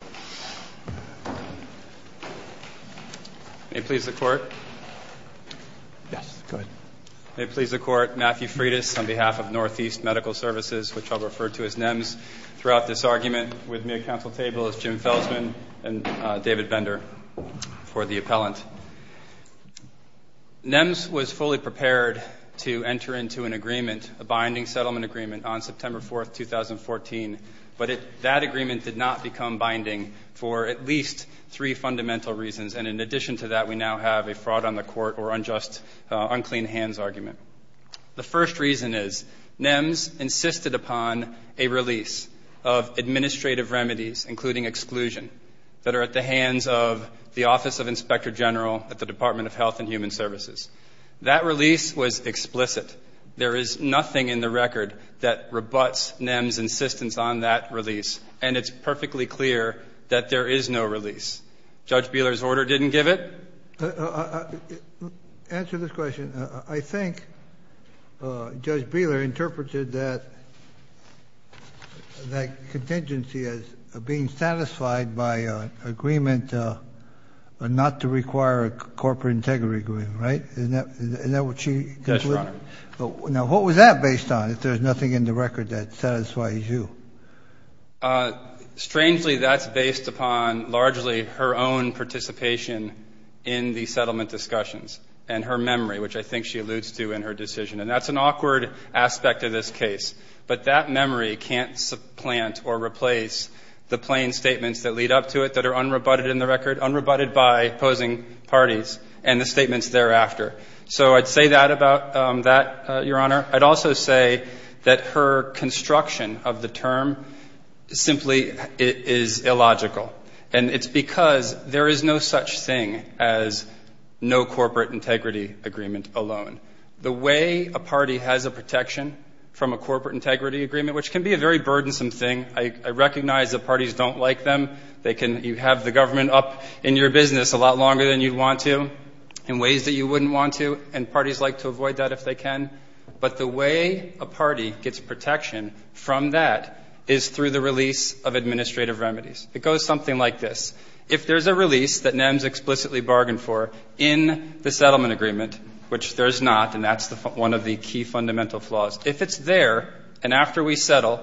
May it please the Court. Yes, go ahead. May it please the Court. Matthew Freitas on behalf of Northeast Medical Services, which I'll refer to as NEMS, throughout this argument with me at council table is Jim Felsman and David Bender for the appellant. NEMS was fully prepared to enter into an agreement, a binding settlement agreement, on September 4, 2014, but that agreement did not become binding for at least three fundamental reasons, and in addition to that, we now have a fraud on the court or unjust, unclean hands argument. The first reason is NEMS insisted upon a release of administrative remedies, including exclusion, that are at the hands of the Office of Inspector General at the Department of Health and Human Services. That release was explicit. There is nothing in the record that rebuts NEMS' insistence on that release, and it's perfectly clear that there is no release. Judge Beeler's order didn't give it? Answer this question. I think Judge Beeler interpreted that contingency as being satisfied by an agreement not to require a corporate integrity agreement, right? Isn't that what she concluded? Yes, Your Honor. Now, what was that based on, if there's nothing in the record that satisfies you? Strangely, that's based upon largely her own participation in the settlement discussions and her memory, which I think she alludes to in her decision, and that's an awkward aspect of this case, but that memory can't supplant or replace the plain statements that lead up to it that are unrebutted in the record, unrebutted by opposing parties, and the statements thereafter. So I'd say that about that, Your Honor. I'd also say that her construction of the term simply is illogical, and it's because there is no such thing as no corporate integrity agreement alone. The way a party has a protection from a corporate integrity agreement, which can be a very burdensome thing. I recognize that parties don't like them. You have the government up in your business a lot longer than you'd want to in ways that you wouldn't want to, and parties like to avoid that if they can, but the way a party gets protection from that is through the release of administrative remedies. It goes something like this. If there's a release that NEMS explicitly bargained for in the settlement agreement, which there's not, and that's one of the key fundamental flaws. If it's there, and after we settle,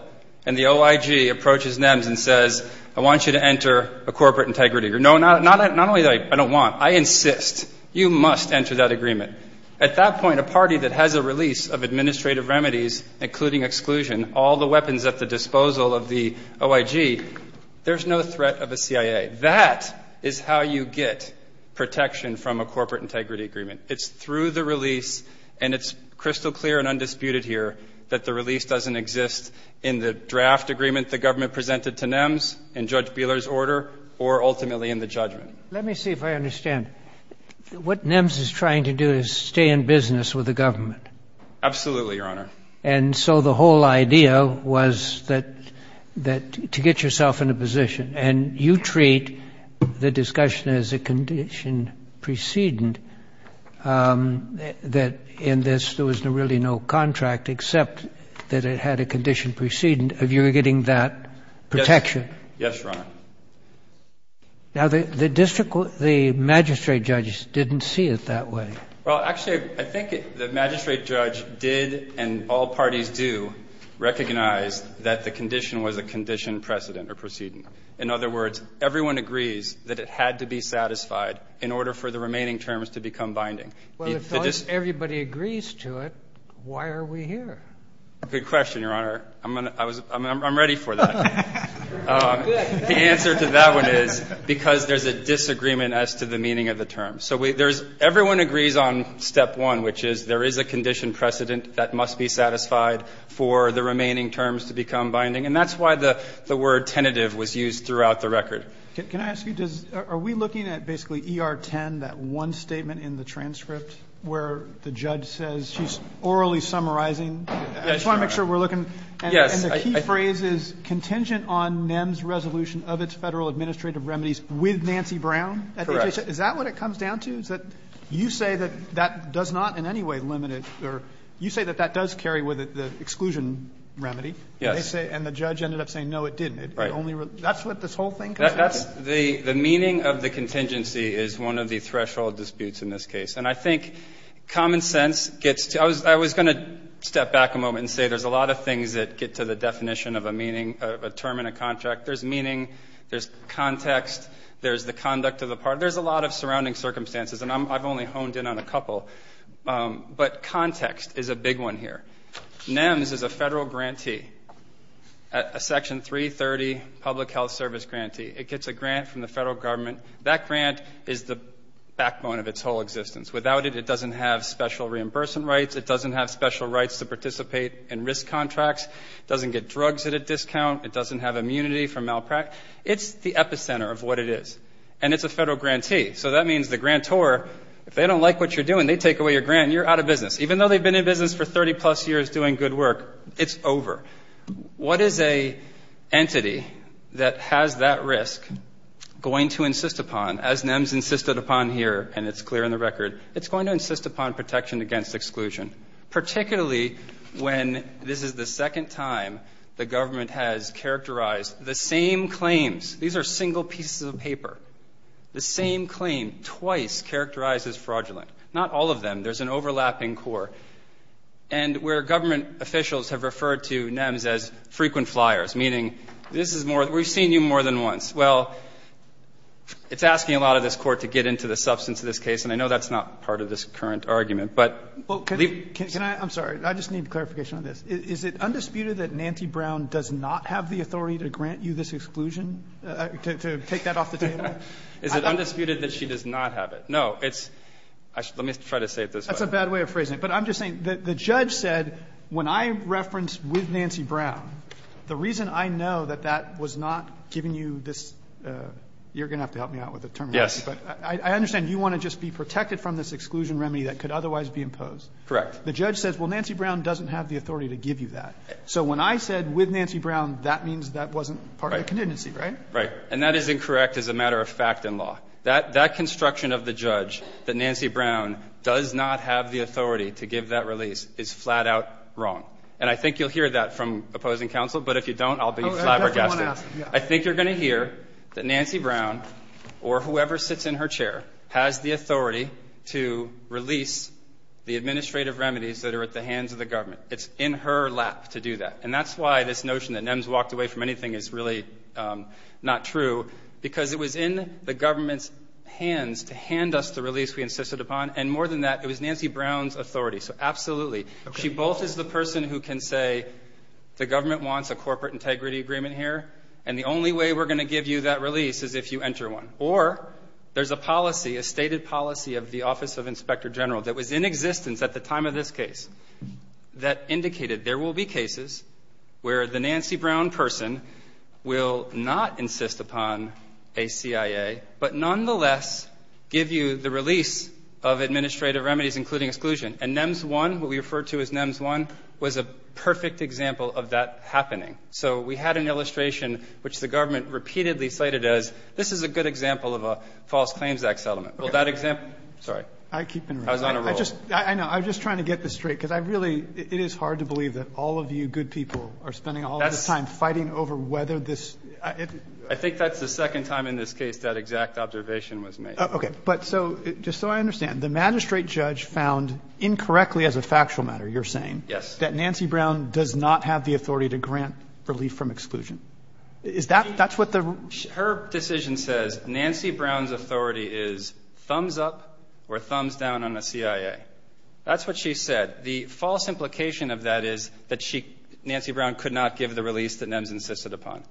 and the OIG approaches NEMS and says, I want you to enter a corporate integrity agreement. No, not only that, I don't want. I insist. You must enter that agreement. At that point, a party that has a release of administrative remedies, including exclusion, all the weapons at the disposal of the OIG, there's no threat of a CIA. That is how you get protection from a corporate integrity agreement. It's through the release, and it's crystal clear and undisputed here that the release doesn't exist in the draft agreement the government presented to NEMS, in Judge Beeler's order, or ultimately in the judgment. Let me see if I understand. What NEMS is trying to do is stay in business with the government. Absolutely, Your Honor. And so the whole idea was that, to get yourself in a position, and you treat the discussion as a condition precedent, that in this there was really no contract except that it had a condition precedent of you getting that protection. Yes, Your Honor. Now, the magistrate judges didn't see it that way. Well, actually, I think the magistrate judge did, and all parties do, recognize that the condition was a condition precedent or proceeding. In other words, everyone agrees that it had to be satisfied in order for the remaining terms to become binding. Well, if everybody agrees to it, why are we here? Good question, Your Honor. I'm ready for that. The answer to that one is because there's a disagreement as to the meaning of the term. So there's everyone agrees on step one, which is there is a condition precedent that must be satisfied for the remaining terms to become binding. And that's why the word tentative was used throughout the record. Can I ask you, are we looking at basically ER 10, that one statement in the transcript where the judge says she's orally summarizing? I just want to make sure we're looking. And the key phrase is contingent on NEMS resolution of its Federal administrative remedies with Nancy Brown? Correct. Is that what it comes down to? Is that you say that that does not in any way limit it, or you say that that does carry with it the exclusion remedy? Yes. And they say the judge ended up saying, no, it didn't. That's what this whole thing comes down to? The meaning of the contingency is one of the threshold disputes in this case. And I think common sense gets to, I was going to step back a moment and say there's a lot of things that get to the definition of a meaning of a term in a contract. There's meaning, there's context, there's the conduct of the part. There's a lot of surrounding circumstances, and I've only honed in on a couple. But context is a big one here. NEMS is a Federal grantee, a Section 330 Public Health Service grantee. It gets a grant from the Federal Government. That grant is the backbone of its whole existence. Without it, it doesn't have special reimbursement rights. It doesn't have special rights to participate in risk contracts. It doesn't get drugs at a discount. It doesn't have immunity for malpractice. It's the epicenter of what it is. And it's a Federal grantee. So that means the grantor, if they don't like what you're doing, they take away your grant and you're out of business. Even though they've been in business for 30-plus years doing good work, it's over. What is an entity that has that risk going to insist upon, as NEMS insisted upon here, and it's clear in the record, it's going to insist upon protection against exclusion. Particularly when this is the second time the government has characterized the same claims. These are single pieces of paper. The same claim, twice characterized as fraudulent. Not all of them. There's an overlapping core. And where government officials have referred to NEMS as frequent flyers, meaning, this is more, we've seen you more than once. Well, it's asking a lot of this Court to get into the substance of this case, and I know that's not part of this current argument, but... Can I, I'm sorry, I just need clarification on this. Is it undisputed that Nancy Brown does not have the authority to grant you this exclusion, to take that off the table? Is it undisputed that she does not have it? No, it's, let me try to say it this way. That's a bad way of phrasing it. But I'm just saying, the judge said, when I referenced with Nancy Brown, the reason I know that that was not giving you this, you're going to have to help me out with the terminology, but I understand you want to just be protected from this exclusion remedy that could otherwise be imposed. Correct. The judge says, well, Nancy Brown doesn't have the authority to give you that. So when I said with Nancy Brown, that means that wasn't part of the contingency, right? Right. And that is incorrect as a matter of fact in law. That, that construction of the judge that Nancy Brown does not have the authority to give that release is flat out wrong. And I think you'll hear that from opposing counsel, but if you don't, I'll be flabbergasted. I think you're going to hear that Nancy Brown, or whoever sits in her chair, has the authority to release the administrative remedies that are at the hands of the government. It's in her lap to do that. And that's why this notion that NEMS walked away from anything is really not true, because it was in the government's hands to hand us the release we insisted upon. And more than that, it was Nancy Brown's authority. So absolutely. She both is the person who can say, the government wants a corporate integrity agreement here, and the only way we're going to give you that release is if you enter one. Or there's a policy, a stated policy of the Office of Inspector General that was in existence at the time of this case that indicated there will be cases where the Nancy Brown person will not insist upon a CIA, but nonetheless give you the release of administrative remedies, including exclusion. And NEMS 1, what we refer to as NEMS 1, was a perfect example of that happening. So we had an illustration which the government repeatedly cited as, this is a good example of a false claims act settlement. Well, that example – sorry. I keep interrupting. I was on a roll. I know. I was just trying to get this straight, because I really – it is hard to believe that all of you good people are spending all this time fighting over whether this – I think that's the second time in this case that exact observation was made. Okay. But so – just so I understand, the magistrate judge found incorrectly as a factual matter, you're saying, that Nancy Brown does not have the authority to grant relief from exclusion. Is that – that's what the – her decision says Nancy Brown's authority is thumbs up or thumbs down on the CIA. That's what she said. The false implication of that is that she – Nancy Brown could not give the release that NEMS insisted upon.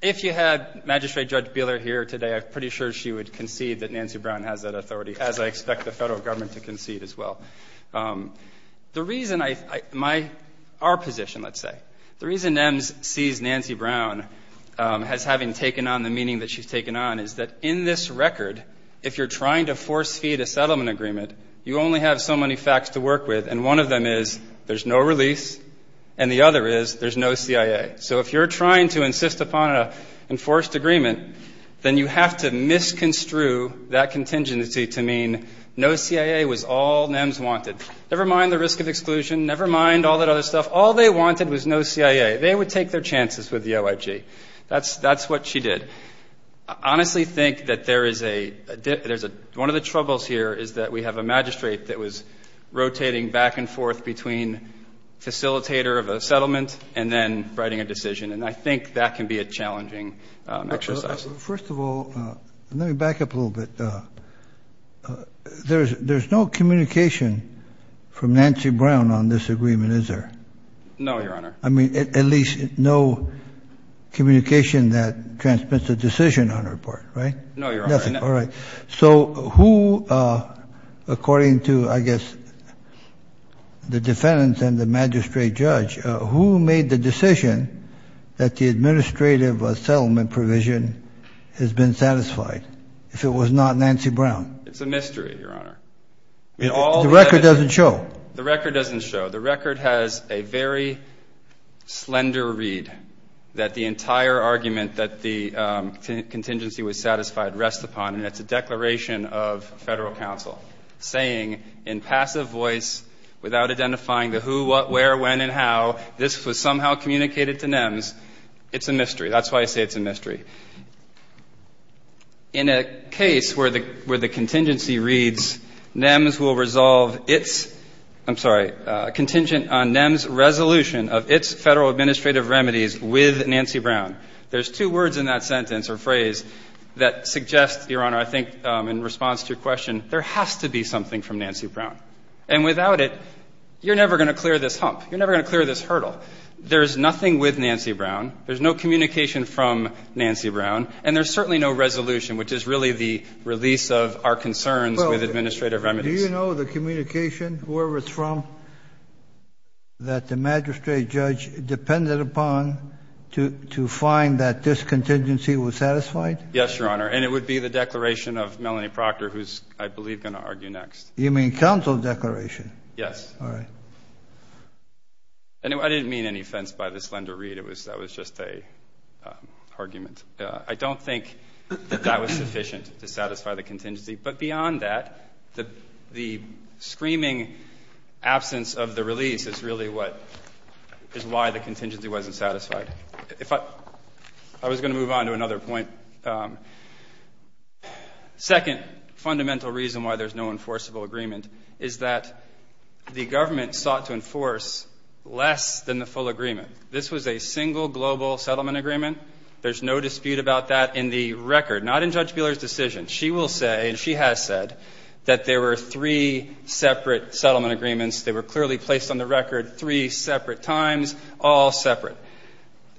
If you had Magistrate Judge Buehler here today, I'm pretty sure she would concede that Nancy Brown has that authority, as I expect the federal government to concede as well. The reason I – my – our position, let's say. The reason NEMS sees Nancy Brown as having taken on the meaning that she's taken on is that in this record, if you're trying to force feed a settlement agreement, you only have so many facts to work with, and one of them is there's no release, and the other is there's no CIA. So if you're trying to insist upon an enforced agreement, then you have to misconstrue that contingency to mean no CIA was all NEMS wanted. Never mind the risk of exclusion. Never mind all that other stuff. All they wanted was no CIA. They would take their chances with the OIG. That's – that's what she did. Honestly think that there is a – there's a – one of the troubles here is that we have a magistrate that was rotating back and forth between facilitator of a settlement and then writing a decision, and I think that can be a challenging exercise. First of all, let me back up a little bit. There's – there's no communication from Nancy Brown on this agreement, is there? No, Your Honor. I mean, at least no communication that transmits a decision on her part, right? No, Your Honor. Nothing. All right. So who, according to, I guess, the defendants and the magistrate judge, who made the decision that the administrative settlement provision has been satisfied, if it was not Nancy Brown? It's a mystery, Your Honor. The record doesn't show. The record doesn't show. The record has a very slender read that the entire argument that the contingency was satisfied rests upon, and it's a declaration of Federal This was somehow communicated to NEMS. It's a mystery. That's why I say it's a mystery. In a case where the – where the contingency reads, NEMS will resolve its – I'm sorry, contingent on NEMS resolution of its Federal administrative remedies with Nancy Brown, there's two words in that sentence or phrase that suggest, Your Honor, I think in response to your question, there has to be something from Nancy Brown. And without it, you're never going to clear this hump. You're never going to clear this hurdle. There's nothing with Nancy Brown. There's no communication from Nancy Brown. And there's certainly no resolution, which is really the release of our concerns with administrative remedies. Do you know the communication, whoever it's from, that the magistrate judge depended upon to find that this contingency was satisfied? Yes, Your Honor. And it would be the declaration of Melanie Proctor, who's, I believe, going to argue next. You mean counsel's declaration? Yes. All right. And I didn't mean any offense by the slender read. It was – that was just a argument. I don't think that that was sufficient to satisfy the contingency. But beyond that, the screaming absence of the release is really what – is why the contingency wasn't satisfied. If I – I was going to move on to another point. Second fundamental reason why there's no enforceable agreement is that the government sought to enforce less than the full agreement. This was a single global settlement agreement. There's no dispute about that in the record, not in Judge Buehler's decision. She will say, and she has said, that there were three separate settlement agreements. They were clearly placed on the record three separate times, all separate.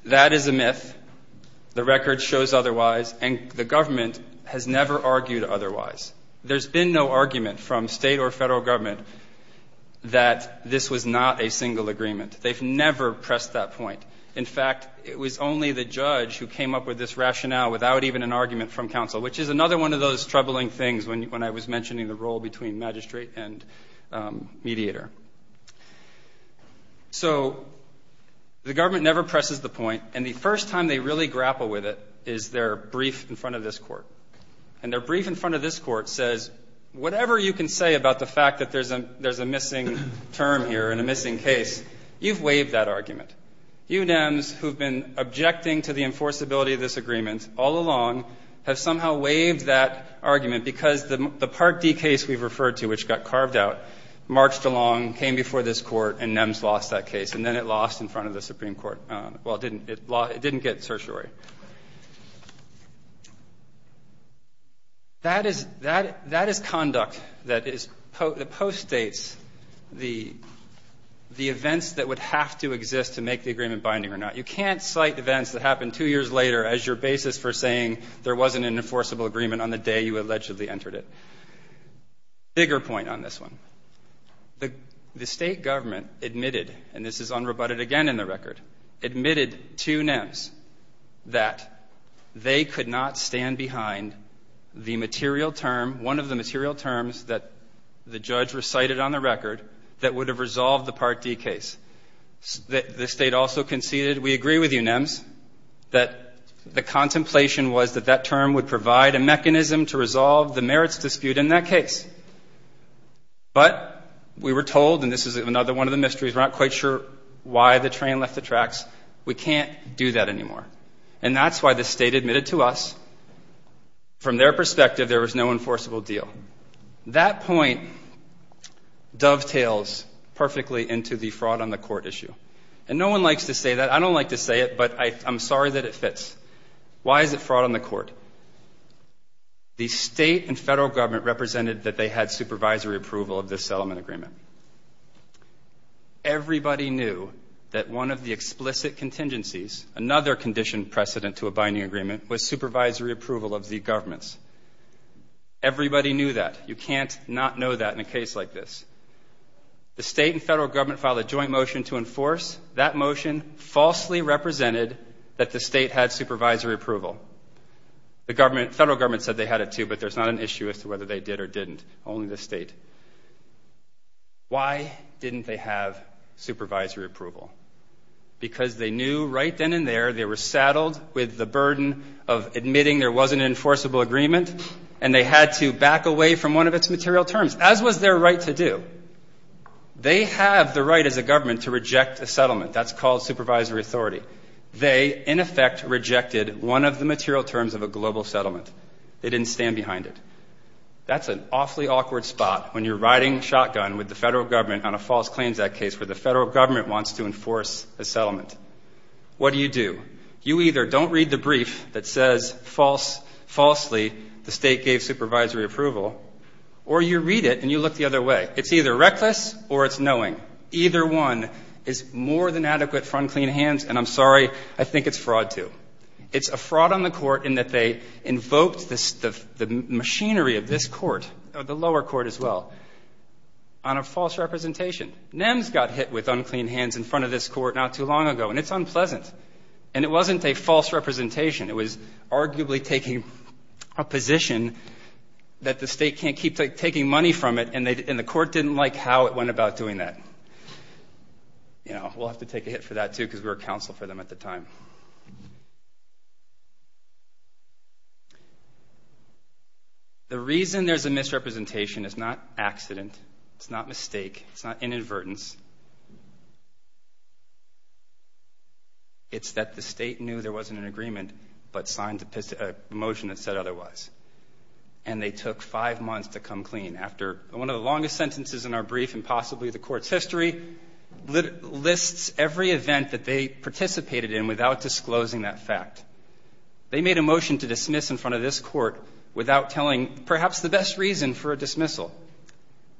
That is a myth. The record shows otherwise. And the government has never argued otherwise. There's been no argument from state or federal government that this was not a single agreement. They've never pressed that point. In fact, it was only the judge who came up with this rationale without even an argument from counsel, which is another one of those troubling things when I was mentioning the role between magistrate and mediator. So the government never presses the point. And the first time they really grapple with it is their brief in front of this court. And their brief in front of this court says, whatever you can say about the fact that there's a missing term here and a missing case, you've waived that argument. You NEMs who've been objecting to the enforceability of this agreement all along have somehow waived that argument because the Part D case we've referred to, which got carved out, marched along, came before this court, and NEMs lost that case. And then it lost in front of the Supreme Court. Well, it didn't get certiorari. That is conduct that postdates the events that would have to exist to make the agreement binding or not. You can't cite events that happened two years later as your basis for saying there wasn't an enforceable agreement on the day you allegedly entered it. Bigger point on this one. The state government admitted, and this is unrebutted again in the record, admitted to behind the material term, one of the material terms that the judge recited on the record that would have resolved the Part D case. The state also conceded, we agree with you NEMs, that the contemplation was that that term would provide a mechanism to resolve the merits dispute in that case. But we were told, and this is another one of the mysteries, we're not quite sure why the train left the tracks, we can't do that anymore. And that's why the state admitted to us, from their perspective, there was no enforceable deal. That point dovetails perfectly into the fraud on the court issue. And no one likes to say that. I don't like to say it, but I'm sorry that it fits. Why is it fraud on the court? The state and federal government represented that they had supervisory approval of this settlement agreement. Everybody knew that one of the explicit contingencies, another condition precedent to a binding agreement, was supervisory approval of the government's. Everybody knew that. You can't not know that in a case like this. The state and federal government filed a joint motion to enforce. That motion falsely represented that the state had supervisory approval. The government, federal government said they had it too, but there's not an issue as to whether they did or didn't, only the state. Why didn't they have supervisory approval? Because they knew right then and there they were saddled with the burden of admitting there was an enforceable agreement, and they had to back away from one of its material terms, as was their right to do. They have the right as a government to reject a settlement. That's called supervisory authority. They, in effect, rejected one of the material terms of a global settlement. They didn't stand behind it. That's an awfully awkward spot when you're riding shotgun with the federal government on a false claims act case where the federal government wants to enforce a settlement. What do you do? You either don't read the brief that says falsely the state gave supervisory approval, or you read it and you look the other way. It's either reckless or it's knowing. Either one is more than adequate front clean hands, and I'm sorry, I think it's fraud too. It's a fraud on the court in that they invoked the machinery of this court, the lower court as well, on a false representation. NEMS got hit with unclean hands in front of this court not too long ago, and it's unpleasant. It wasn't a false representation. It was arguably taking a position that the state can't keep taking money from it, and the court didn't like how it went about doing that. We'll have to take a hit for that too because we were counsel for them at the time. The reason there's a misrepresentation is not accident. It's not mistake. It's not inadvertence. It's that the state knew there wasn't an agreement but signed a motion that said otherwise, and they took five months to come clean after one of the longest sentences in our brief and possibly the court's history lists every event that they participated in without disclosing that fact. They made a motion to dismiss in front of this court without telling perhaps the best reason for a dismissal.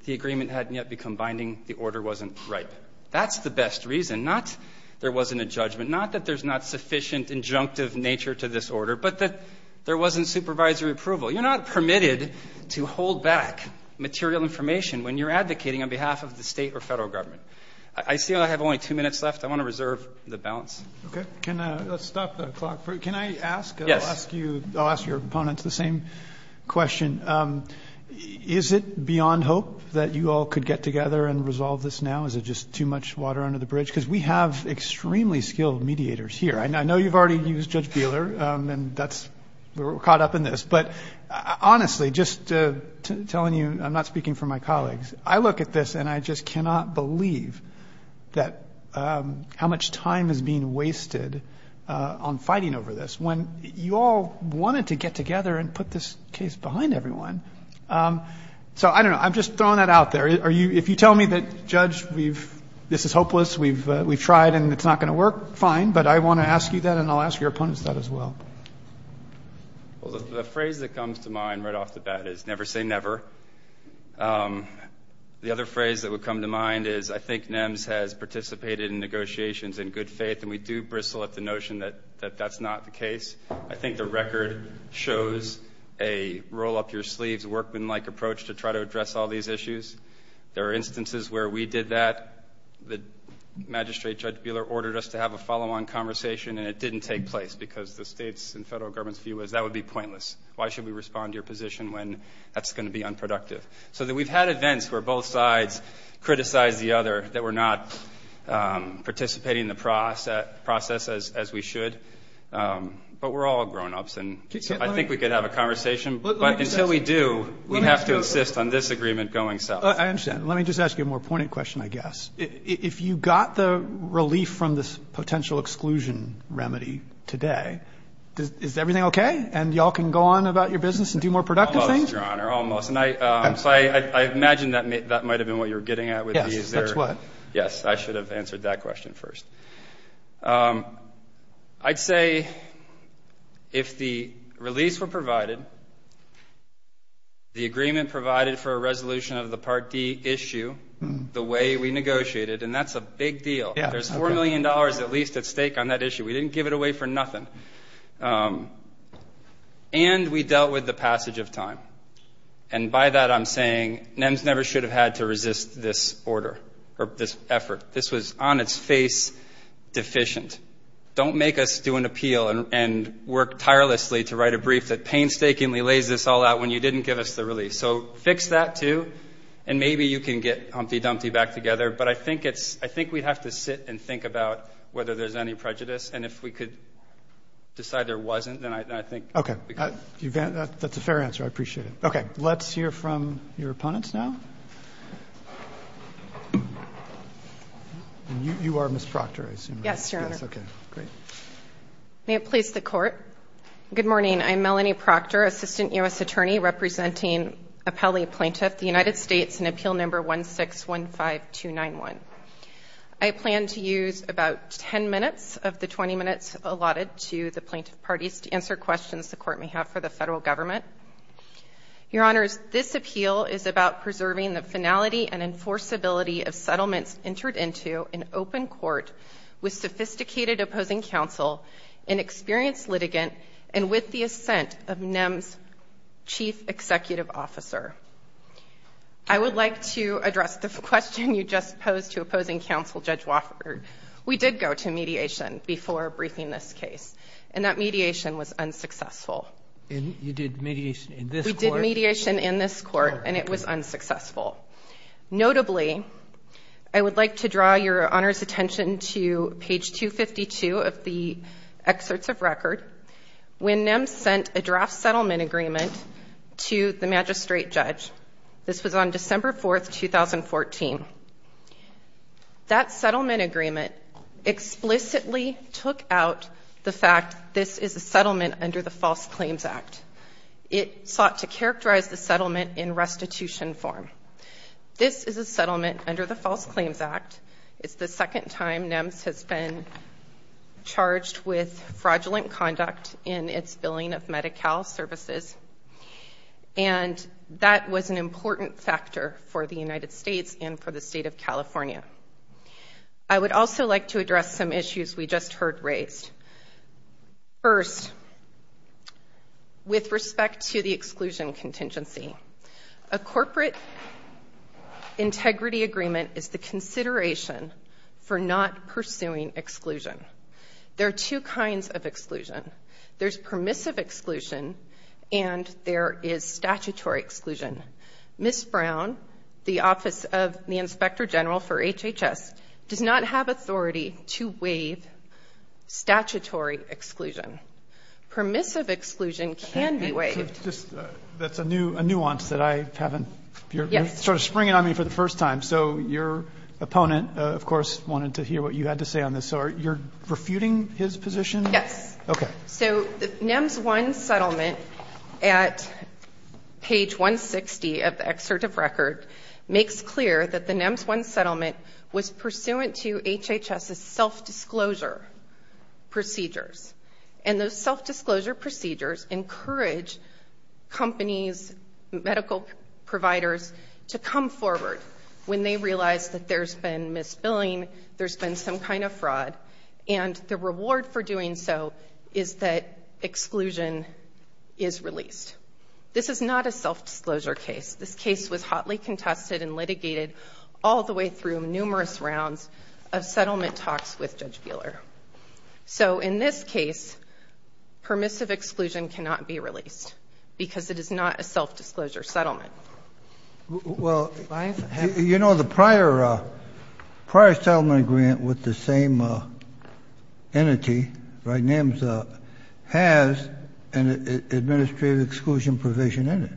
The agreement hadn't yet become binding. The order wasn't ripe. That's the best reason, not there wasn't a judgment, not that there's not sufficient injunctive nature to this order, but that there wasn't supervisory approval. You're not permitted to hold back material information when you're advocating on behalf of the state or federal government. I see I have only two minutes left. I want to reserve the balance. Okay, let's stop the clock. Can I ask, I'll ask your opponents the same question. Is it beyond hope that you all could get together and resolve this now? Is it just too much water under the bridge? Because we have extremely skilled mediators here. I know you've already used Judge Beeler, and we're caught up in this. But honestly, just telling you, I'm not speaking for my colleagues, I look at this and I just wasted on fighting over this when you all wanted to get together and put this case behind everyone. So I don't know. I'm just throwing that out there. Are you, if you tell me that, Judge, we've, this is hopeless, we've, we've tried and it's not going to work, fine. But I want to ask you that and I'll ask your opponents that as well. Well, the phrase that comes to mind right off the bat is never say never. The other phrase that would come to mind is I think NEMS has participated in negotiations in good faith and we do bristle at the notion that that's not the case. I think the record shows a roll up your sleeves, workman-like approach to try to address all these issues. There are instances where we did that. The magistrate, Judge Beeler, ordered us to have a follow-on conversation and it didn't take place because the state's and federal government's view was that would be pointless. Why should we respond to your position when that's going to be unproductive? So that we've had events where both sides criticize the other, that we're not participating in the process as we should. But we're all grown-ups and I think we could have a conversation, but until we do, we have to insist on this agreement going south. I understand. Let me just ask you a more pointed question, I guess. If you got the relief from this potential exclusion remedy today, is everything okay? And y'all can go on about your business and do more productive things? Almost, your honor, almost. And I imagine that might have been what you're getting at with these. Yes, that's what. Yes, I should have answered that question first. I'd say if the release were provided, the agreement provided for a resolution of the Part D issue, the way we negotiated, and that's a big deal. There's $4 million at least at stake on that issue. We didn't give it away for nothing. And we dealt with the passage of time. And by that, I'm saying NEMS never should have had to resist this order or this effort. This was on its face deficient. Don't make us do an appeal and work tirelessly to write a brief that painstakingly lays this all out when you didn't give us the relief. So fix that, too, and maybe you can get Humpty Dumpty back together. But I think we'd have to sit and think about whether there's any prejudice. And if we could decide there wasn't, then I think— Okay, that's a fair answer. I appreciate it. Okay, let's hear from your opponents now. You are Ms. Proctor, I assume? Yes, Your Honor. Okay, great. May it please the Court. Good morning. I'm Melanie Proctor, Assistant U.S. Attorney representing Appellee Plaintiff, the United States, in Appeal Number 1615291. I plan to use about 10 minutes of the 20 minutes allotted to the plaintiff parties to answer questions the Court may have for the federal government. Your Honors, this appeal is about preserving the finality and enforceability of settlements entered into in open court with sophisticated opposing counsel, an experienced litigant, and with the assent of NEM's chief executive officer. I would like to address the question you just posed to opposing counsel, Judge Wofford. We did go to mediation before briefing this case, and that mediation was unsuccessful. You did mediation in this court? We did mediation in this court, and it was unsuccessful. Notably, I would like to draw Your Honor's attention to page 252 of the excerpts of record when NEM sent a draft settlement agreement to the magistrate judge. This was on December 4, 2014. That settlement agreement explicitly took out the fact this is a settlement under the False Claims Act. It sought to characterize the settlement in restitution form. This is a settlement under the False Claims Act. It's the second time NEM has been charged with fraudulent conduct in its billing of Medi-Cal services, and that was an important factor for the United States and for the State of California. I would also like to address some issues we just heard raised. First, with respect to the exclusion contingency, a corporate integrity agreement is the consideration for not pursuing exclusion. There are two kinds of exclusion. There's permissive exclusion, and there is statutory exclusion. Ms. Brown, the Office of the Inspector General for HHS, does not have authority to waive statutory exclusion. Permissive exclusion can be waived. That's a nuance that you're sort of springing on me for the first time. So your opponent, of course, wanted to hear what you had to say on this. So you're refuting his position? Yes. Okay. NEMS 1 settlement at page 160 of the excerpt of record makes clear that the NEMS 1 settlement was pursuant to HHS's self-disclosure procedures, and those self-disclosure procedures encourage companies, medical providers to come forward when they realize that there's been misbilling, there's been some kind of fraud, and the reward for doing so is that exclusion is released. This is not a self-disclosure case. This case was hotly contested and litigated all the way through numerous rounds of settlement talks with Judge Buehler. So in this case, permissive exclusion cannot be released because it is not a self-disclosure settlement. Well, you know, the prior settlement grant with the same entity, right, NEMS, has an administrative exclusion provision in it,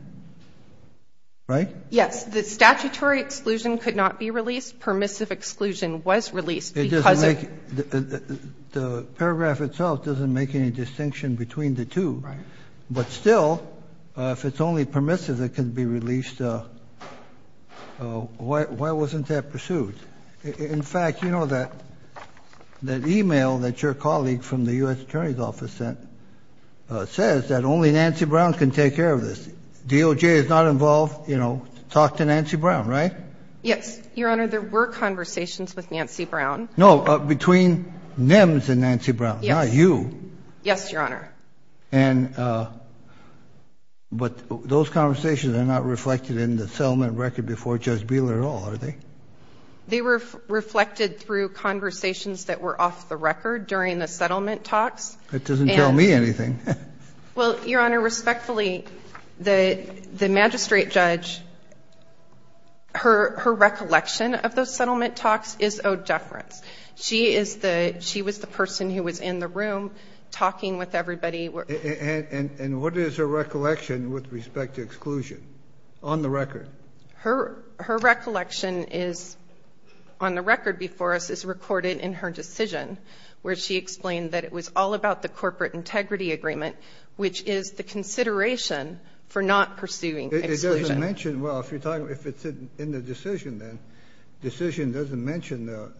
right? Yes. The statutory exclusion could not be released. Permissive exclusion was released because of... The paragraph itself doesn't make any distinction between the two. Right. But still, if it's only permissive, it can be released. Why wasn't that pursued? In fact, you know that email that your colleague from the U.S. Attorney's Office sent says that only Nancy Brown can take care of this. DOJ is not involved. You know, talk to Nancy Brown, right? Yes, Your Honor. There were conversations with Nancy Brown. No, between NEMS and Nancy Brown, not you. Yes, Your Honor. And... But those conversations are not reflected in the settlement record before Judge Bieler at all, are they? They were reflected through conversations that were off the record during the settlement talks. That doesn't tell me anything. Well, Your Honor, respectfully, the magistrate judge, her recollection of those settlement talks is owed deference. She was the person who was in the room talking with everybody. And what is her recollection with respect to exclusion, on the record? Her recollection is, on the record before us, is recorded in her decision, where she explained that it was all about the corporate integrity agreement, which is the consideration for not pursuing exclusion. It doesn't mention... Well, if you're talking... If it's in the decision, then the decision doesn't mention the,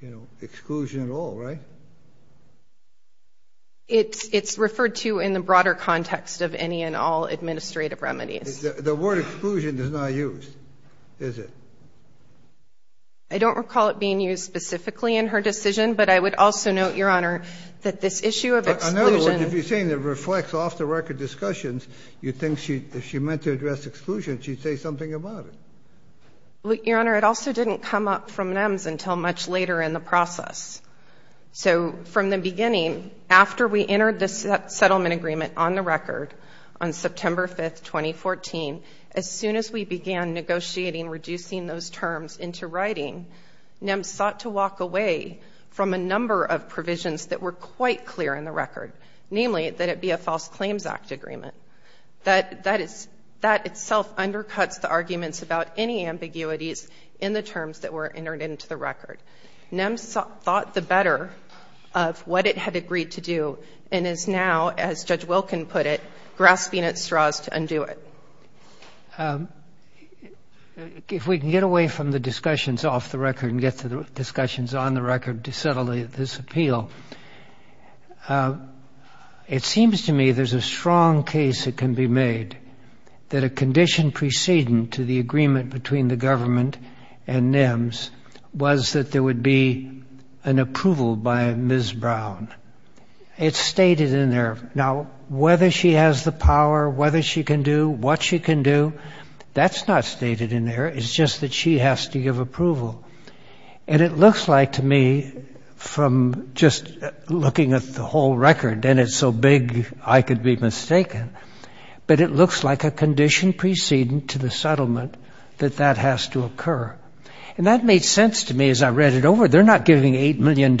you know, exclusion at all, right? It's referred to in the broader context of any and all administrative remedies. The word exclusion is not used, is it? I don't recall it being used specifically in her decision, but I would also note, Your Honor, that this issue of exclusion... In other words, if you're saying it reflects off-the-record discussions, you say something about it. Your Honor, it also didn't come up from NEMS until much later in the process. So, from the beginning, after we entered the settlement agreement on the record on September 5th, 2014, as soon as we began negotiating, reducing those terms into writing, NEMS sought to walk away from a number of provisions that were quite clear in the record, namely that it be a False Claims Act agreement. That is... That itself undercuts the arguments about any ambiguities in the terms that were entered into the record. NEMS thought the better of what it had agreed to do and is now, as Judge Wilkin put it, grasping at straws to undo it. If we can get away from the discussions off the record and get to the discussions on the record to settle this appeal, it seems to me there's a strong case that can be made that a condition preceding to the agreement between the government and NEMS was that there would be an approval by Ms. Brown. It's stated in there. Now, whether she has the power, whether she can do what she can do, that's not stated in there. It's just that she has to give approval. And it looks like, to me, from just looking at the whole record, and it's so big I could be mistaken, but it looks like a condition preceding to the settlement that that has to occur. And that made sense to me as I read it over. They're not giving $8 million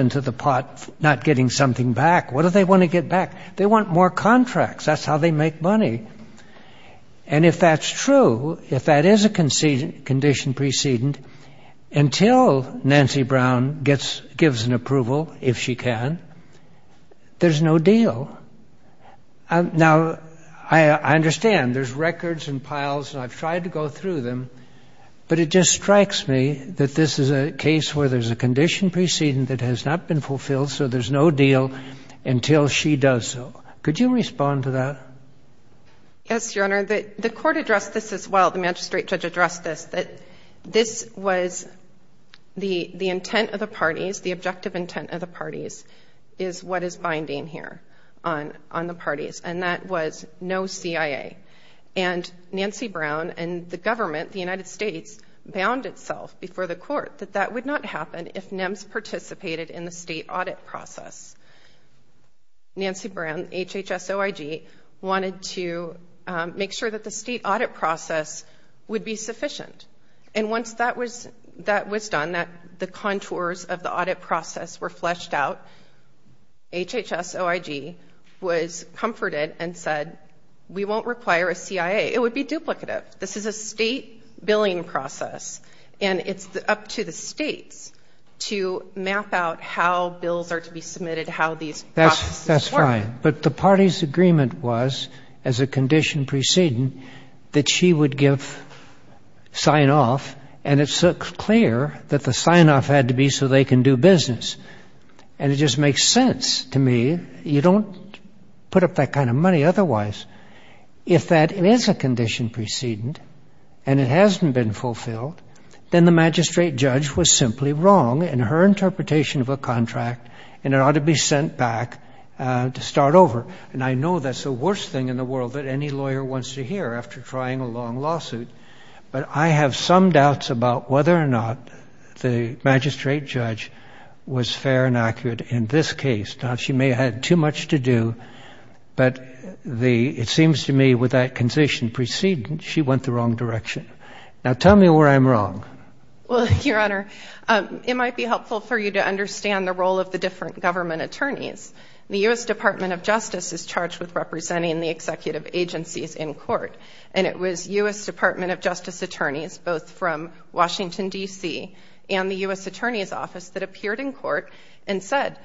into the pot not getting something back. What do they want to get back? They want more contracts. That's how they make money. And if that's true, if that is a condition preceding until Nancy Brown gives an approval, if she can, there's no deal. Now, I understand there's records and piles, and I've tried to go through them, but it just strikes me that this is a case where there's a condition preceding that has not been fulfilled, so there's no deal until she does so. Could you respond to that? Yes, Your Honor. The court addressed this as well. The magistrate judge addressed this, that this was the intent of the parties, the objective intent of the parties, is what is binding here on the parties, and that was no CIA. And Nancy Brown and the government, the United States, bound itself before the court that that would not happen if NEMS participated in the state audit process. Nancy Brown, HHS-OIG, wanted to make sure that the state audit process would be sufficient. And once that was done, that the contours of the audit process were fleshed out, HHS-OIG was comforted and said, we won't require a CIA. It would be duplicative. This is a state billing process, and it's up to the states to map out how bills are submitted, how these processes work. That's fine. But the party's agreement was, as a condition preceding, that she would give sign-off, and it's so clear that the sign-off had to be so they can do business. And it just makes sense to me. You don't put up that kind of money otherwise. If that is a condition preceding, and it hasn't been fulfilled, then the magistrate was simply wrong in her interpretation of a contract, and it ought to be sent back to start over. And I know that's the worst thing in the world that any lawyer wants to hear after trying a long lawsuit, but I have some doubts about whether or not the magistrate judge was fair and accurate in this case. Now, she may have had too much to do, but it seems to me with that condition preceding, she went the wrong direction. Now, tell me where I'm wrong. Well, Your Honor, it might be helpful for you to understand the role of the different government attorneys. The U.S. Department of Justice is charged with representing the executive agencies in court. And it was U.S. Department of Justice attorneys, both from Washington, D.C., and the U.S. Attorney's Office that appeared in court and said,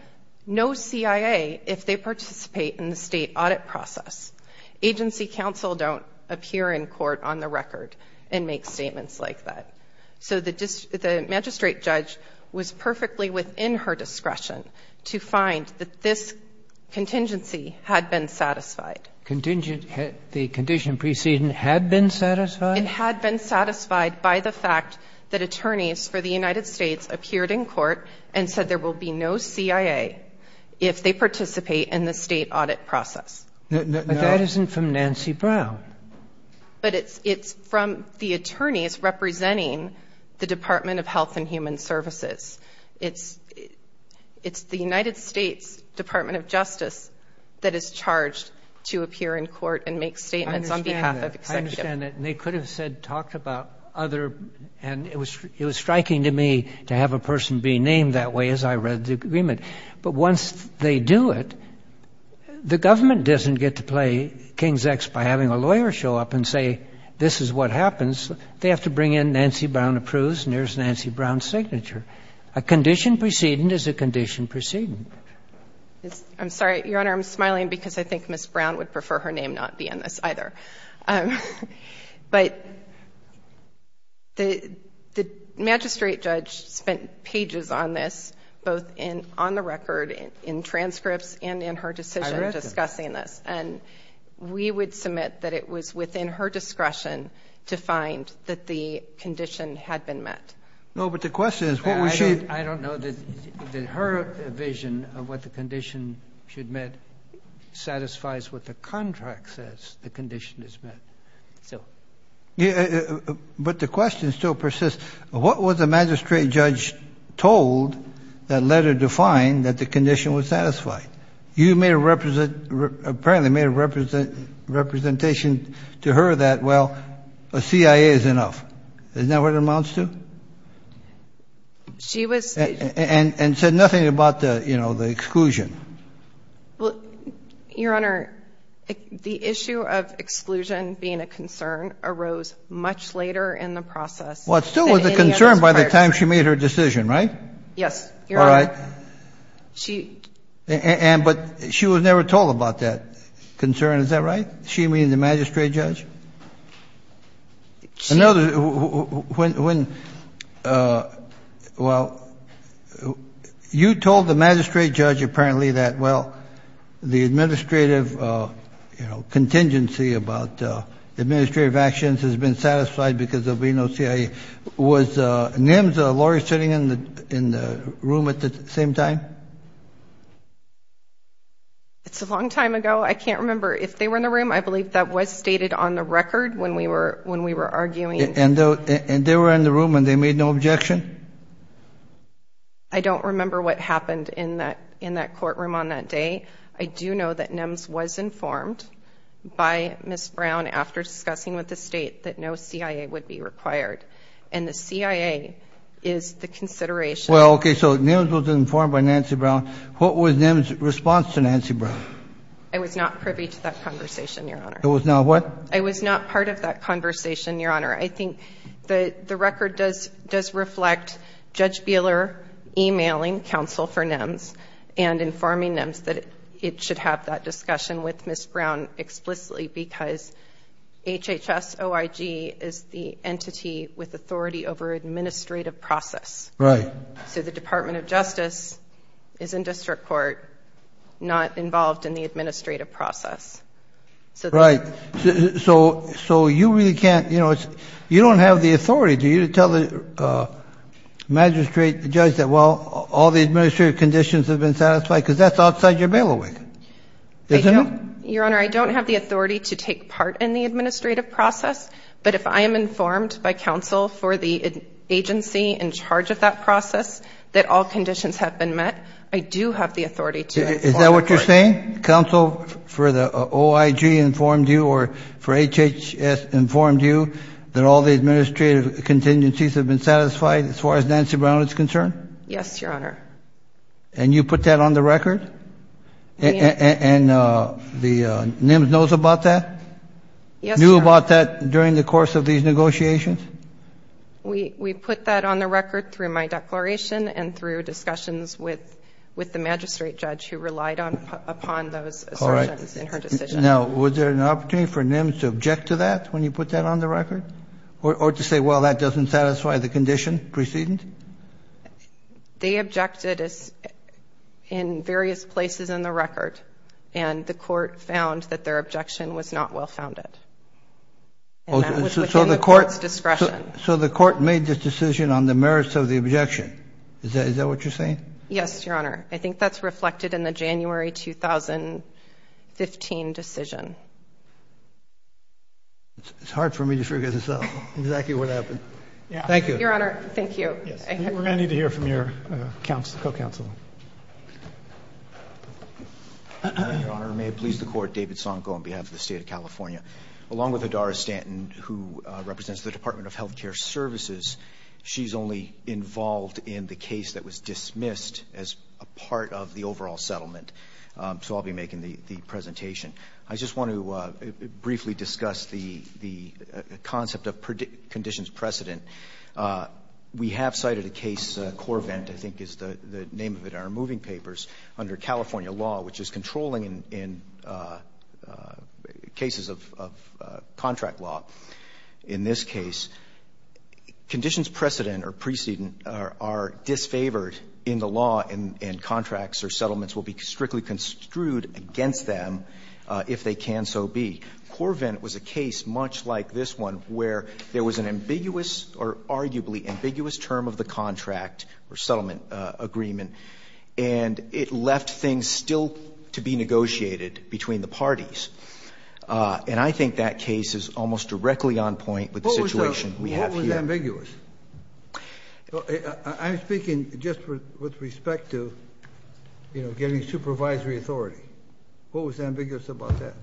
no CIA if they participate in the state audit process. Agency counsel don't appear in court on the record and make statements like that. So the magistrate judge was perfectly within her discretion to find that this contingency had been satisfied. Contingent – the condition preceding had been satisfied? It had been satisfied by the fact that attorneys for the United States appeared in court and said there will be no CIA if they participate in the state audit process. But that isn't from Nancy Brown. But it's from the attorneys representing the Department of Health and Human Services. It's the United States Department of Justice that is charged to appear in court and make statements on behalf of executives. I understand that. And they could have said – talked about other – and it was striking to me to have But once they do it, the government doesn't get to play king's ex by having a lawyer show up and say, this is what happens. They have to bring in, Nancy Brown approves, and there's Nancy Brown's signature. A condition preceding is a condition preceding. I'm sorry, Your Honor, I'm smiling because I think Ms. Brown would prefer her name not be in this either. But the magistrate judge spent pages on this, both on the record, in transcripts, and in her decision discussing this. And we would submit that it was within her discretion to find that the condition had been met. No, but the question is, what was she – I don't know that her vision of what the condition should mean satisfies what the contract says the condition is met. So. But the question still persists, what was the magistrate judge told that letter defined that the condition was satisfied? You made a – apparently made a representation to her that, well, a CIA is enough. Isn't that what it amounts to? She was – And said nothing about the, you know, the exclusion. Well, Your Honor, the issue of exclusion being a concern arose much later in the process. Well, it still was a concern by the time she made her decision, right? Yes, Your Honor. All right. She. And – but she was never told about that concern, is that right? She, meaning the magistrate judge? Well, you told the magistrate judge apparently that, well, the administrative, you know, contingency about administrative actions has been satisfied because there'll be no CIA. Was NIMS a lawyer sitting in the room at the same time? It's a long time ago. I can't remember if they were in the room. I believe that was stated on the record. When we were – when we were arguing. And they were in the room and they made no objection? I don't remember what happened in that courtroom on that day. I do know that NIMS was informed by Ms. Brown after discussing with the state that no CIA would be required. And the CIA is the consideration. Well, okay, so NIMS was informed by Nancy Brown. What was NIMS' response to Nancy Brown? I was not privy to that conversation, Your Honor. It was not what? I was not part of that conversation, Your Honor. I think the record does reflect Judge Buehler emailing counsel for NIMS and informing NIMS that it should have that discussion with Ms. Brown explicitly because HHS-OIG is the entity with authority over administrative process. Right. So the Department of Justice is in district court, not involved in the administrative process. Right. So – so you really can't, you know, it's – you don't have the authority, do you, to tell the magistrate, the judge that, well, all the administrative conditions have been satisfied? Because that's outside your bailiwick. Your Honor, I don't have the authority to take part in the administrative process. But if I am informed by counsel for the agency in charge of that process that all conditions have been met, I do have the authority to. Is that what you're saying? Counsel for the OIG informed you or for HHS informed you that all the administrative contingencies have been satisfied as far as Nancy Brown is concerned? Yes, Your Honor. And you put that on the record? And the NIMS knows about that? Yes, Your Honor. Knew about that during the course of these negotiations? We put that on the record through my declaration and through discussions with the magistrate who relied upon those assertions in her decision. Now, was there an opportunity for NIMS to object to that when you put that on the record? Or to say, well, that doesn't satisfy the condition preceding? They objected in various places in the record. And the court found that their objection was not well-founded. And that was within the court's discretion. So the court made this decision on the merits of the objection. Is that what you're saying? Yes, Your Honor. I think that's reflected in the January 2015 decision. It's hard for me to figure this out, exactly what happened. Thank you. Your Honor, thank you. We're going to need to hear from your counsel, co-counsel. Your Honor, may it please the Court, David Sonko on behalf of the State of California. Along with Adara Stanton, who represents the Department of Health Care Services, she's only involved in the case that was dismissed as a part of the overall settlement. So I'll be making the presentation. I just want to briefly discuss the concept of conditions precedent. We have cited a case, Corvent, I think is the name of it in our moving papers, under California law, which is controlling in cases of contract law. In this case, conditions precedent or precedent are disfavored in the law and contracts or settlements will be strictly construed against them if they can so be. Corvent was a case much like this one where there was an ambiguous or arguably ambiguous term of the contract or settlement agreement, and it left things still to be negotiated between the parties. And I think that case is almost directly on point with the situation we have here. What was ambiguous? I'm speaking just with respect to, you know, getting supervisory authority. What was ambiguous about that?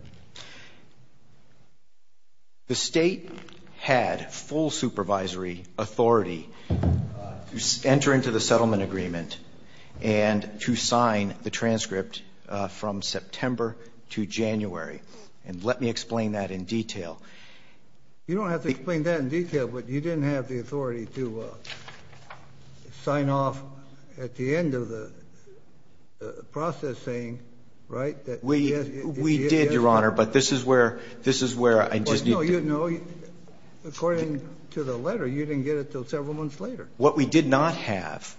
The State had full supervisory authority to enter into the settlement agreement and to sign the transcript from September to January. And let me explain that in detail. You don't have to explain that in detail, but you didn't have the authority to sign off at the end of the processing, right? We did, Your Honor, but this is where I just need to... No, according to the letter, you didn't get it until several months later. What we did not have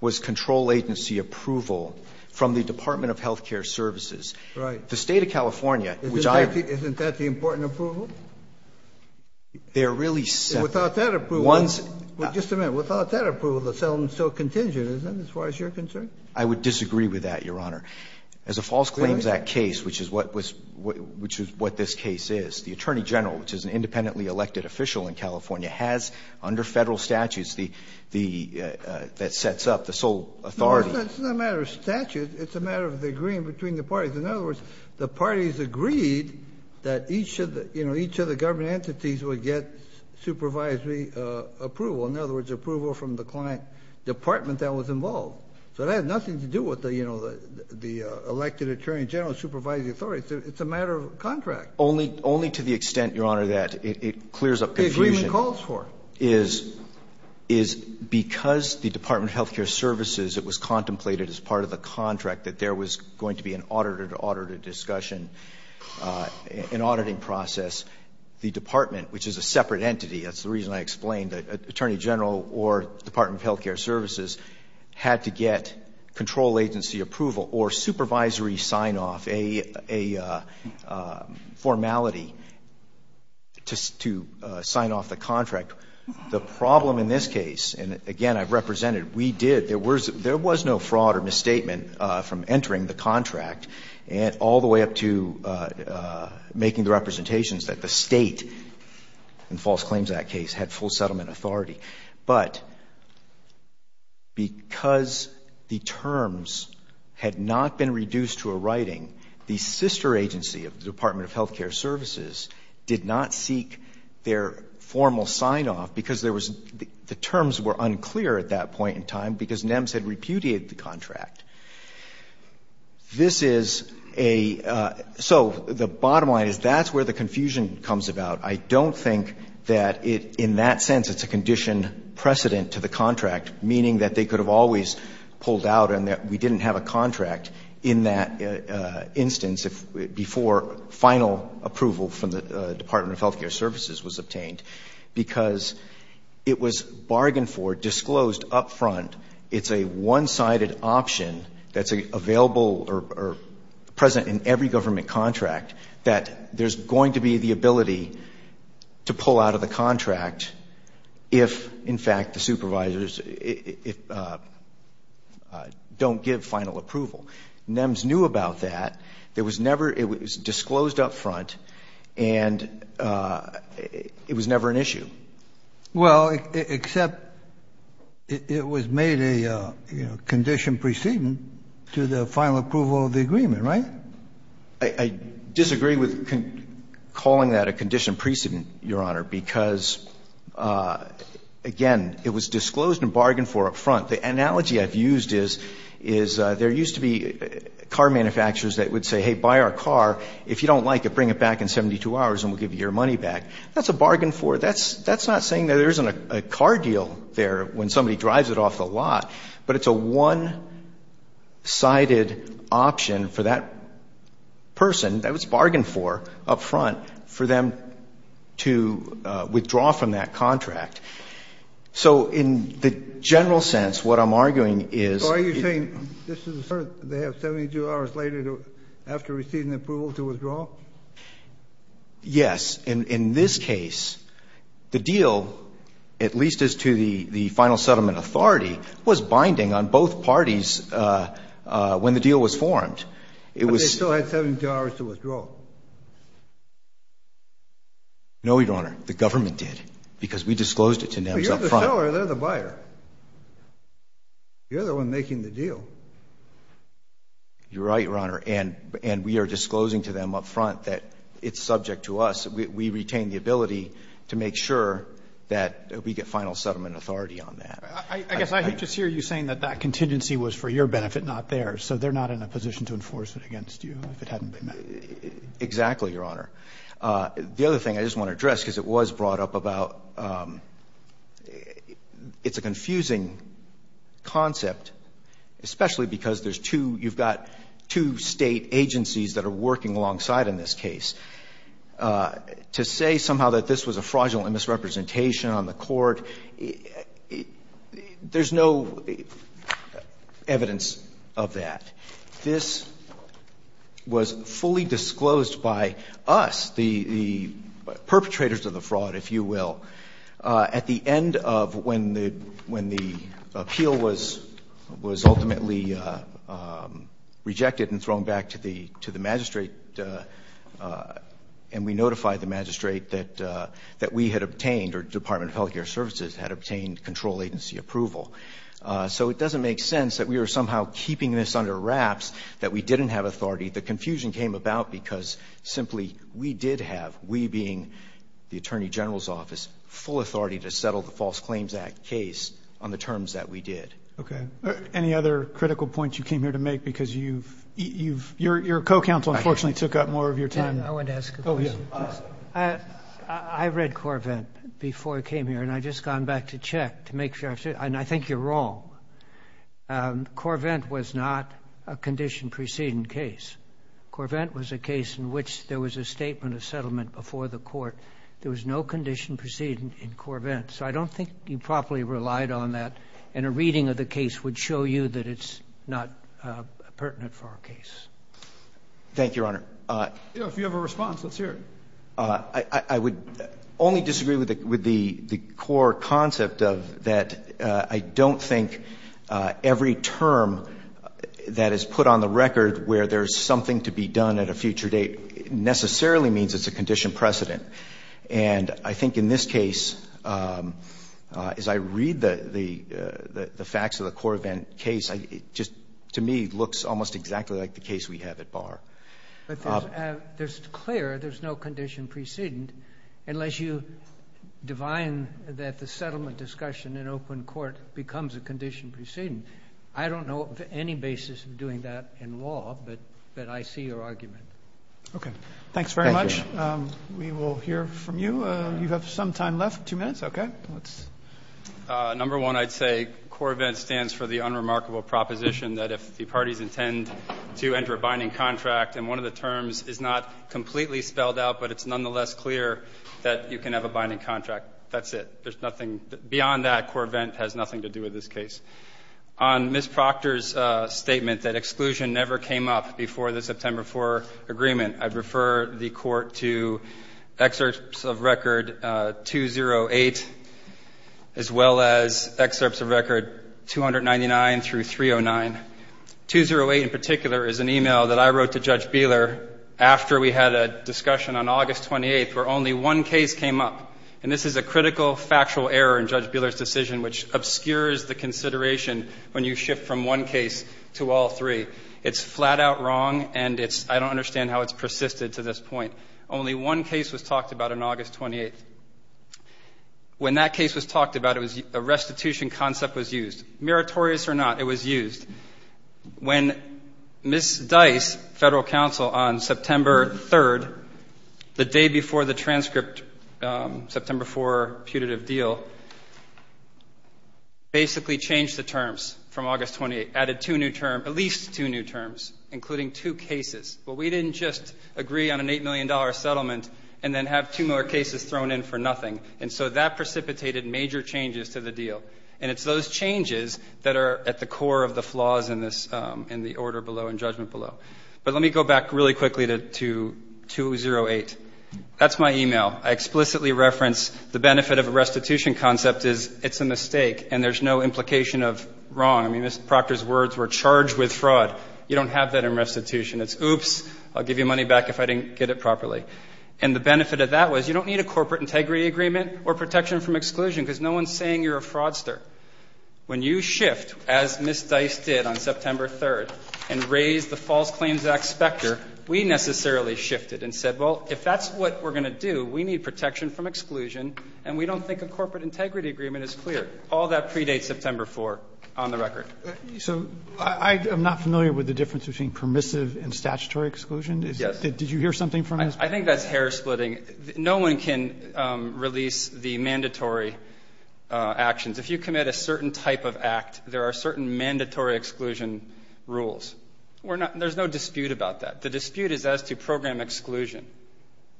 was control agency approval from the Department of Health Care Services. Right. The State of California, which I... Isn't that the important approval? They're really... Without that approval... One's... Just a minute. Without that approval, the settlement is still contingent, isn't it, as far as you're concerned? I would disagree with that, Your Honor. As a False Claims Act case, which is what this case is, the Attorney General, which is an independently elected official in California, has under Federal statutes that sets up the sole authority... No, it's not a matter of statutes. It's a matter of the agreement between the parties. In other words, the parties agreed that each of the government entities would get supervisory approval, in other words, approval from the client department that was involved. So it had nothing to do with the elected Attorney General supervising the authorities. It's a matter of contract. Only to the extent, Your Honor, that it clears up confusion... The agreement calls for it. ...is because the Department of Health Care Services, it was contemplated as part of the contract that there was going to be an auditor-to-auditor discussion, an auditing process, the Department, which is a separate entity, that's the reason I explained, Attorney General or Department of Health Care Services, had to get control agency approval or supervisory sign-off, a formality to sign off the contract. The problem in this case, and again, I've represented, we did, there was no fraud or misstatement from entering the contract all the way up to making the representations that the State, in false claims of that case, had full settlement authority. But because the terms had not been reduced to a writing, the sister agency of the Department of Health Care Services did not seek their formal sign-off because there was, the terms were unclear at that point in time because NEMS had repudiated the contract. This is a, so the bottom line is that's where the confusion comes about. I don't think that it, in that sense, it's a condition precedent to the contract, meaning that they could have always pulled out and that we didn't have a contract in that instance before final approval from the Department of Health Care Services was obtained because it was bargained for, disclosed up front. It's a one-sided option that's available or present in every government contract that there's going to be the ability to pull out of the contract if, in fact, the NEMS knew about that. There was never, it was disclosed up front, and it was never an issue. Well, except it was made a condition precedent to the final approval of the agreement, right? I disagree with calling that a condition precedent, Your Honor, because, again, it was disclosed and bargained for up front. The analogy I've used is there used to be car manufacturers that would say, hey, buy our car. If you don't like it, bring it back in 72 hours and we'll give you your money back. That's a bargain for, that's not saying that there isn't a car deal there when somebody drives it off the lot, but it's a one-sided option for that person that was bargained for up front for them to withdraw from that contract. So in the general sense, what I'm arguing is you're saying this is a cert, they have 72 hours later after receiving approval to withdraw? Yes. In this case, the deal, at least as to the final settlement authority, was binding on both parties when the deal was formed. No, Your Honor. The government did, because we disclosed it to them up front. But you're the seller, they're the buyer. You're the one making the deal. You're right, Your Honor. And we are disclosing to them up front that it's subject to us. We retain the ability to make sure that we get final settlement authority on that. I guess I just hear you saying that that contingency was for your benefit, not theirs. So they're not in a position to enforce it against you if it hadn't been met. Exactly, Your Honor. The other thing I just want to address, because it was brought up about, it's a confusing concept, especially because there's two, you've got two state agencies that are working alongside in this case. To say somehow that this was a fraudulent misrepresentation on the court, there's no evidence of that. This was fully disclosed by us, the perpetrators of the fraud, if you will, at the end of when the appeal was ultimately rejected and thrown back to the magistrate. And we notified the magistrate that we had obtained, or Department of Health Care Services had obtained control agency approval. So it doesn't make sense that we were somehow keeping this under wraps, that we didn't have authority. The confusion came about because simply we did have, we being the Attorney General's office, full authority to settle the False Claims Act case on the terms that we did. Okay. Any other critical points you came here to make? Because your co-counsel, unfortunately, took up more of your time. I want to ask a question. I read Corvent before I came here, and I've just gone back to check to make sure, and I think you're wrong. Corvent was not a condition preceding case. Corvent was a case in which there was a statement of settlement before the court. There was no condition preceding in Corvent. So I don't think you properly relied on that. And a reading of the case would show you that it's not pertinent for our case. Thank you, Your Honor. If you have a response, let's hear it. I would only disagree with the core concept of that I don't think every term that is put on the record where there's something to be done at a future date necessarily means it's a condition precedent. And I think in this case, as I read the facts of the Corvent case, it just, to me, looks almost exactly like the case we have at Barr. But there's clear there's no condition precedent unless you divine that the settlement discussion in open court becomes a condition precedent. I don't know of any basis of doing that in law, but I see your argument. Okay. Thanks very much. We will hear from you. You have some time left, two minutes. Okay. Number one, I'd say Corvent stands for the unremarkable proposition that if the parties intend to enter a binding contract and one of the terms is not completely spelled out, but it's nonetheless clear that you can have a binding contract, that's it. There's nothing beyond that. Corvent has nothing to do with this case. On Ms. Proctor's statement that exclusion never came up before the September 4 agreement, I'd refer the Court to excerpts of record 208 as well as excerpts of record 299 through 309. 208 in particular is an email that I wrote to Judge Beeler after we had a discussion on August 28th where only one case came up. And this is a critical factual error in Judge Beeler's decision which obscures the consideration when you shift from one case to all three. It's flat out wrong and I don't understand how it's persisted to this point. Only one case was talked about on August 28th. When that case was talked about, a restitution concept was used. Meritorious or not, it was used. When Ms. Dice, Federal Counsel, on September 3rd, the day before the transcript, September 4 putative deal, basically changed the terms from August 28th, added two new terms, at least two new terms, including two cases. But we didn't just agree on an $8 million settlement and then have two more cases thrown in for nothing. And so that precipitated major changes to the deal. And it's those changes that are at the core of the flaws in the order below and judgment below. But let me go back really quickly to 208. That's my email. I explicitly reference the benefit of a restitution concept is it's a mistake and there's no implication of wrong. I mean, Ms. Proctor's words were charged with fraud. You don't have that in restitution. It's oops, I'll give you money back if I didn't get it properly. And the benefit of that was you don't need a corporate integrity agreement or protection from exclusion because no one's saying you're a fraudster. When you shift, as Ms. Dice did on September 3rd, and raise the False Claims Act specter, we necessarily shifted and said, well, if that's what we're going to do, we need protection from exclusion and we don't think a corporate integrity agreement is clear. All that predates September 4 on the record. Roberts. So I'm not familiar with the difference between permissive and statutory exclusion. Yes. Did you hear something from this? I think that's hair splitting. No one can release the mandatory actions. If you commit a certain type of act, there are certain mandatory exclusion rules. There's no dispute about that. The dispute is as to program exclusion.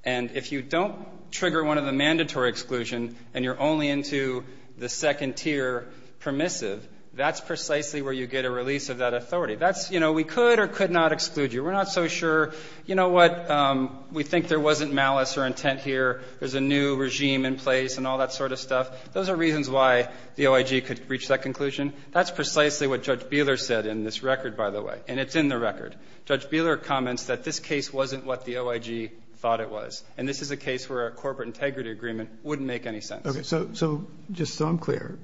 And if you don't trigger one of the mandatory exclusion and you're only into the second tier permissive, that's precisely where you get a release of that authority. We could or could not exclude you. We're not so sure. You know what? We think there wasn't malice or intent here. There's a new regime in place and all that sort of stuff. Those are reasons why the OIG could reach that conclusion. That's precisely what Judge Beeler said in this record, by the way. And it's in the record. Judge Beeler comments that this case wasn't what the OIG thought it was. And this is a case where a corporate integrity agreement wouldn't make any sense. OK. So just so I'm clear,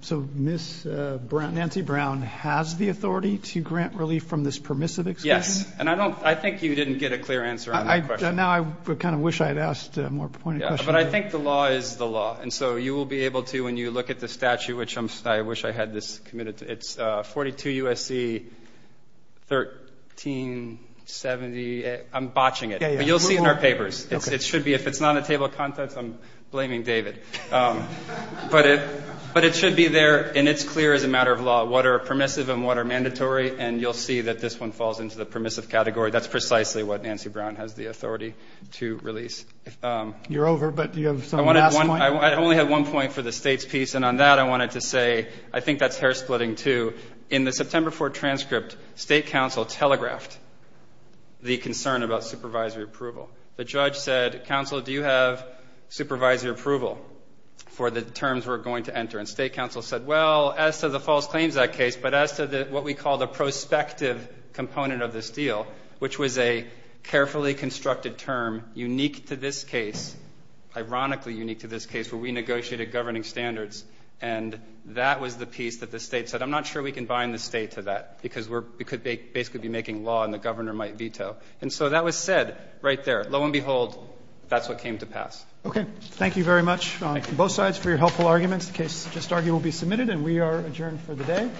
so Ms. Brown, Nancy Brown has the authority to grant relief from this permissive exclusion? Yes. And I think you didn't get a clear answer on that question. Now I kind of wish I had asked a more pointed question. But I think the law is the law. And so you will be able to, when you look at the statute, which I wish I had this committed to, it's 42 U.S.C. 1370. I'm botching it. But you'll see in our papers. It should be. If it's not on the table of contents, I'm blaming David. But it should be there. And it's clear as a matter of law what are permissive and what are mandatory. And you'll see that this one falls into the permissive category. That's precisely what Nancy Brown has the authority to release. You're over. But do you have some last point? I only have one point for the state's piece. And on that, I wanted to say, I think that's hair splitting, too. In the September 4 transcript, state counsel telegraphed the concern about supervisory approval. The judge said, counsel, do you have supervisory approval for the terms we're going to enter? And state counsel said, well, as to the false claims that case, but as to what we call the prospective component of this deal, which was a carefully constructed term unique to this case, ironically unique to this case, where we negotiated governing standards. And that was the piece that the state said, I'm not sure we can bind the state to that because we could basically be making law and the governor might veto. And so that was said right there. Lo and behold, that's what came to pass. OK. Thank you very much on both sides for your helpful arguments. The case just argued will be submitted. And we are adjourned for the day.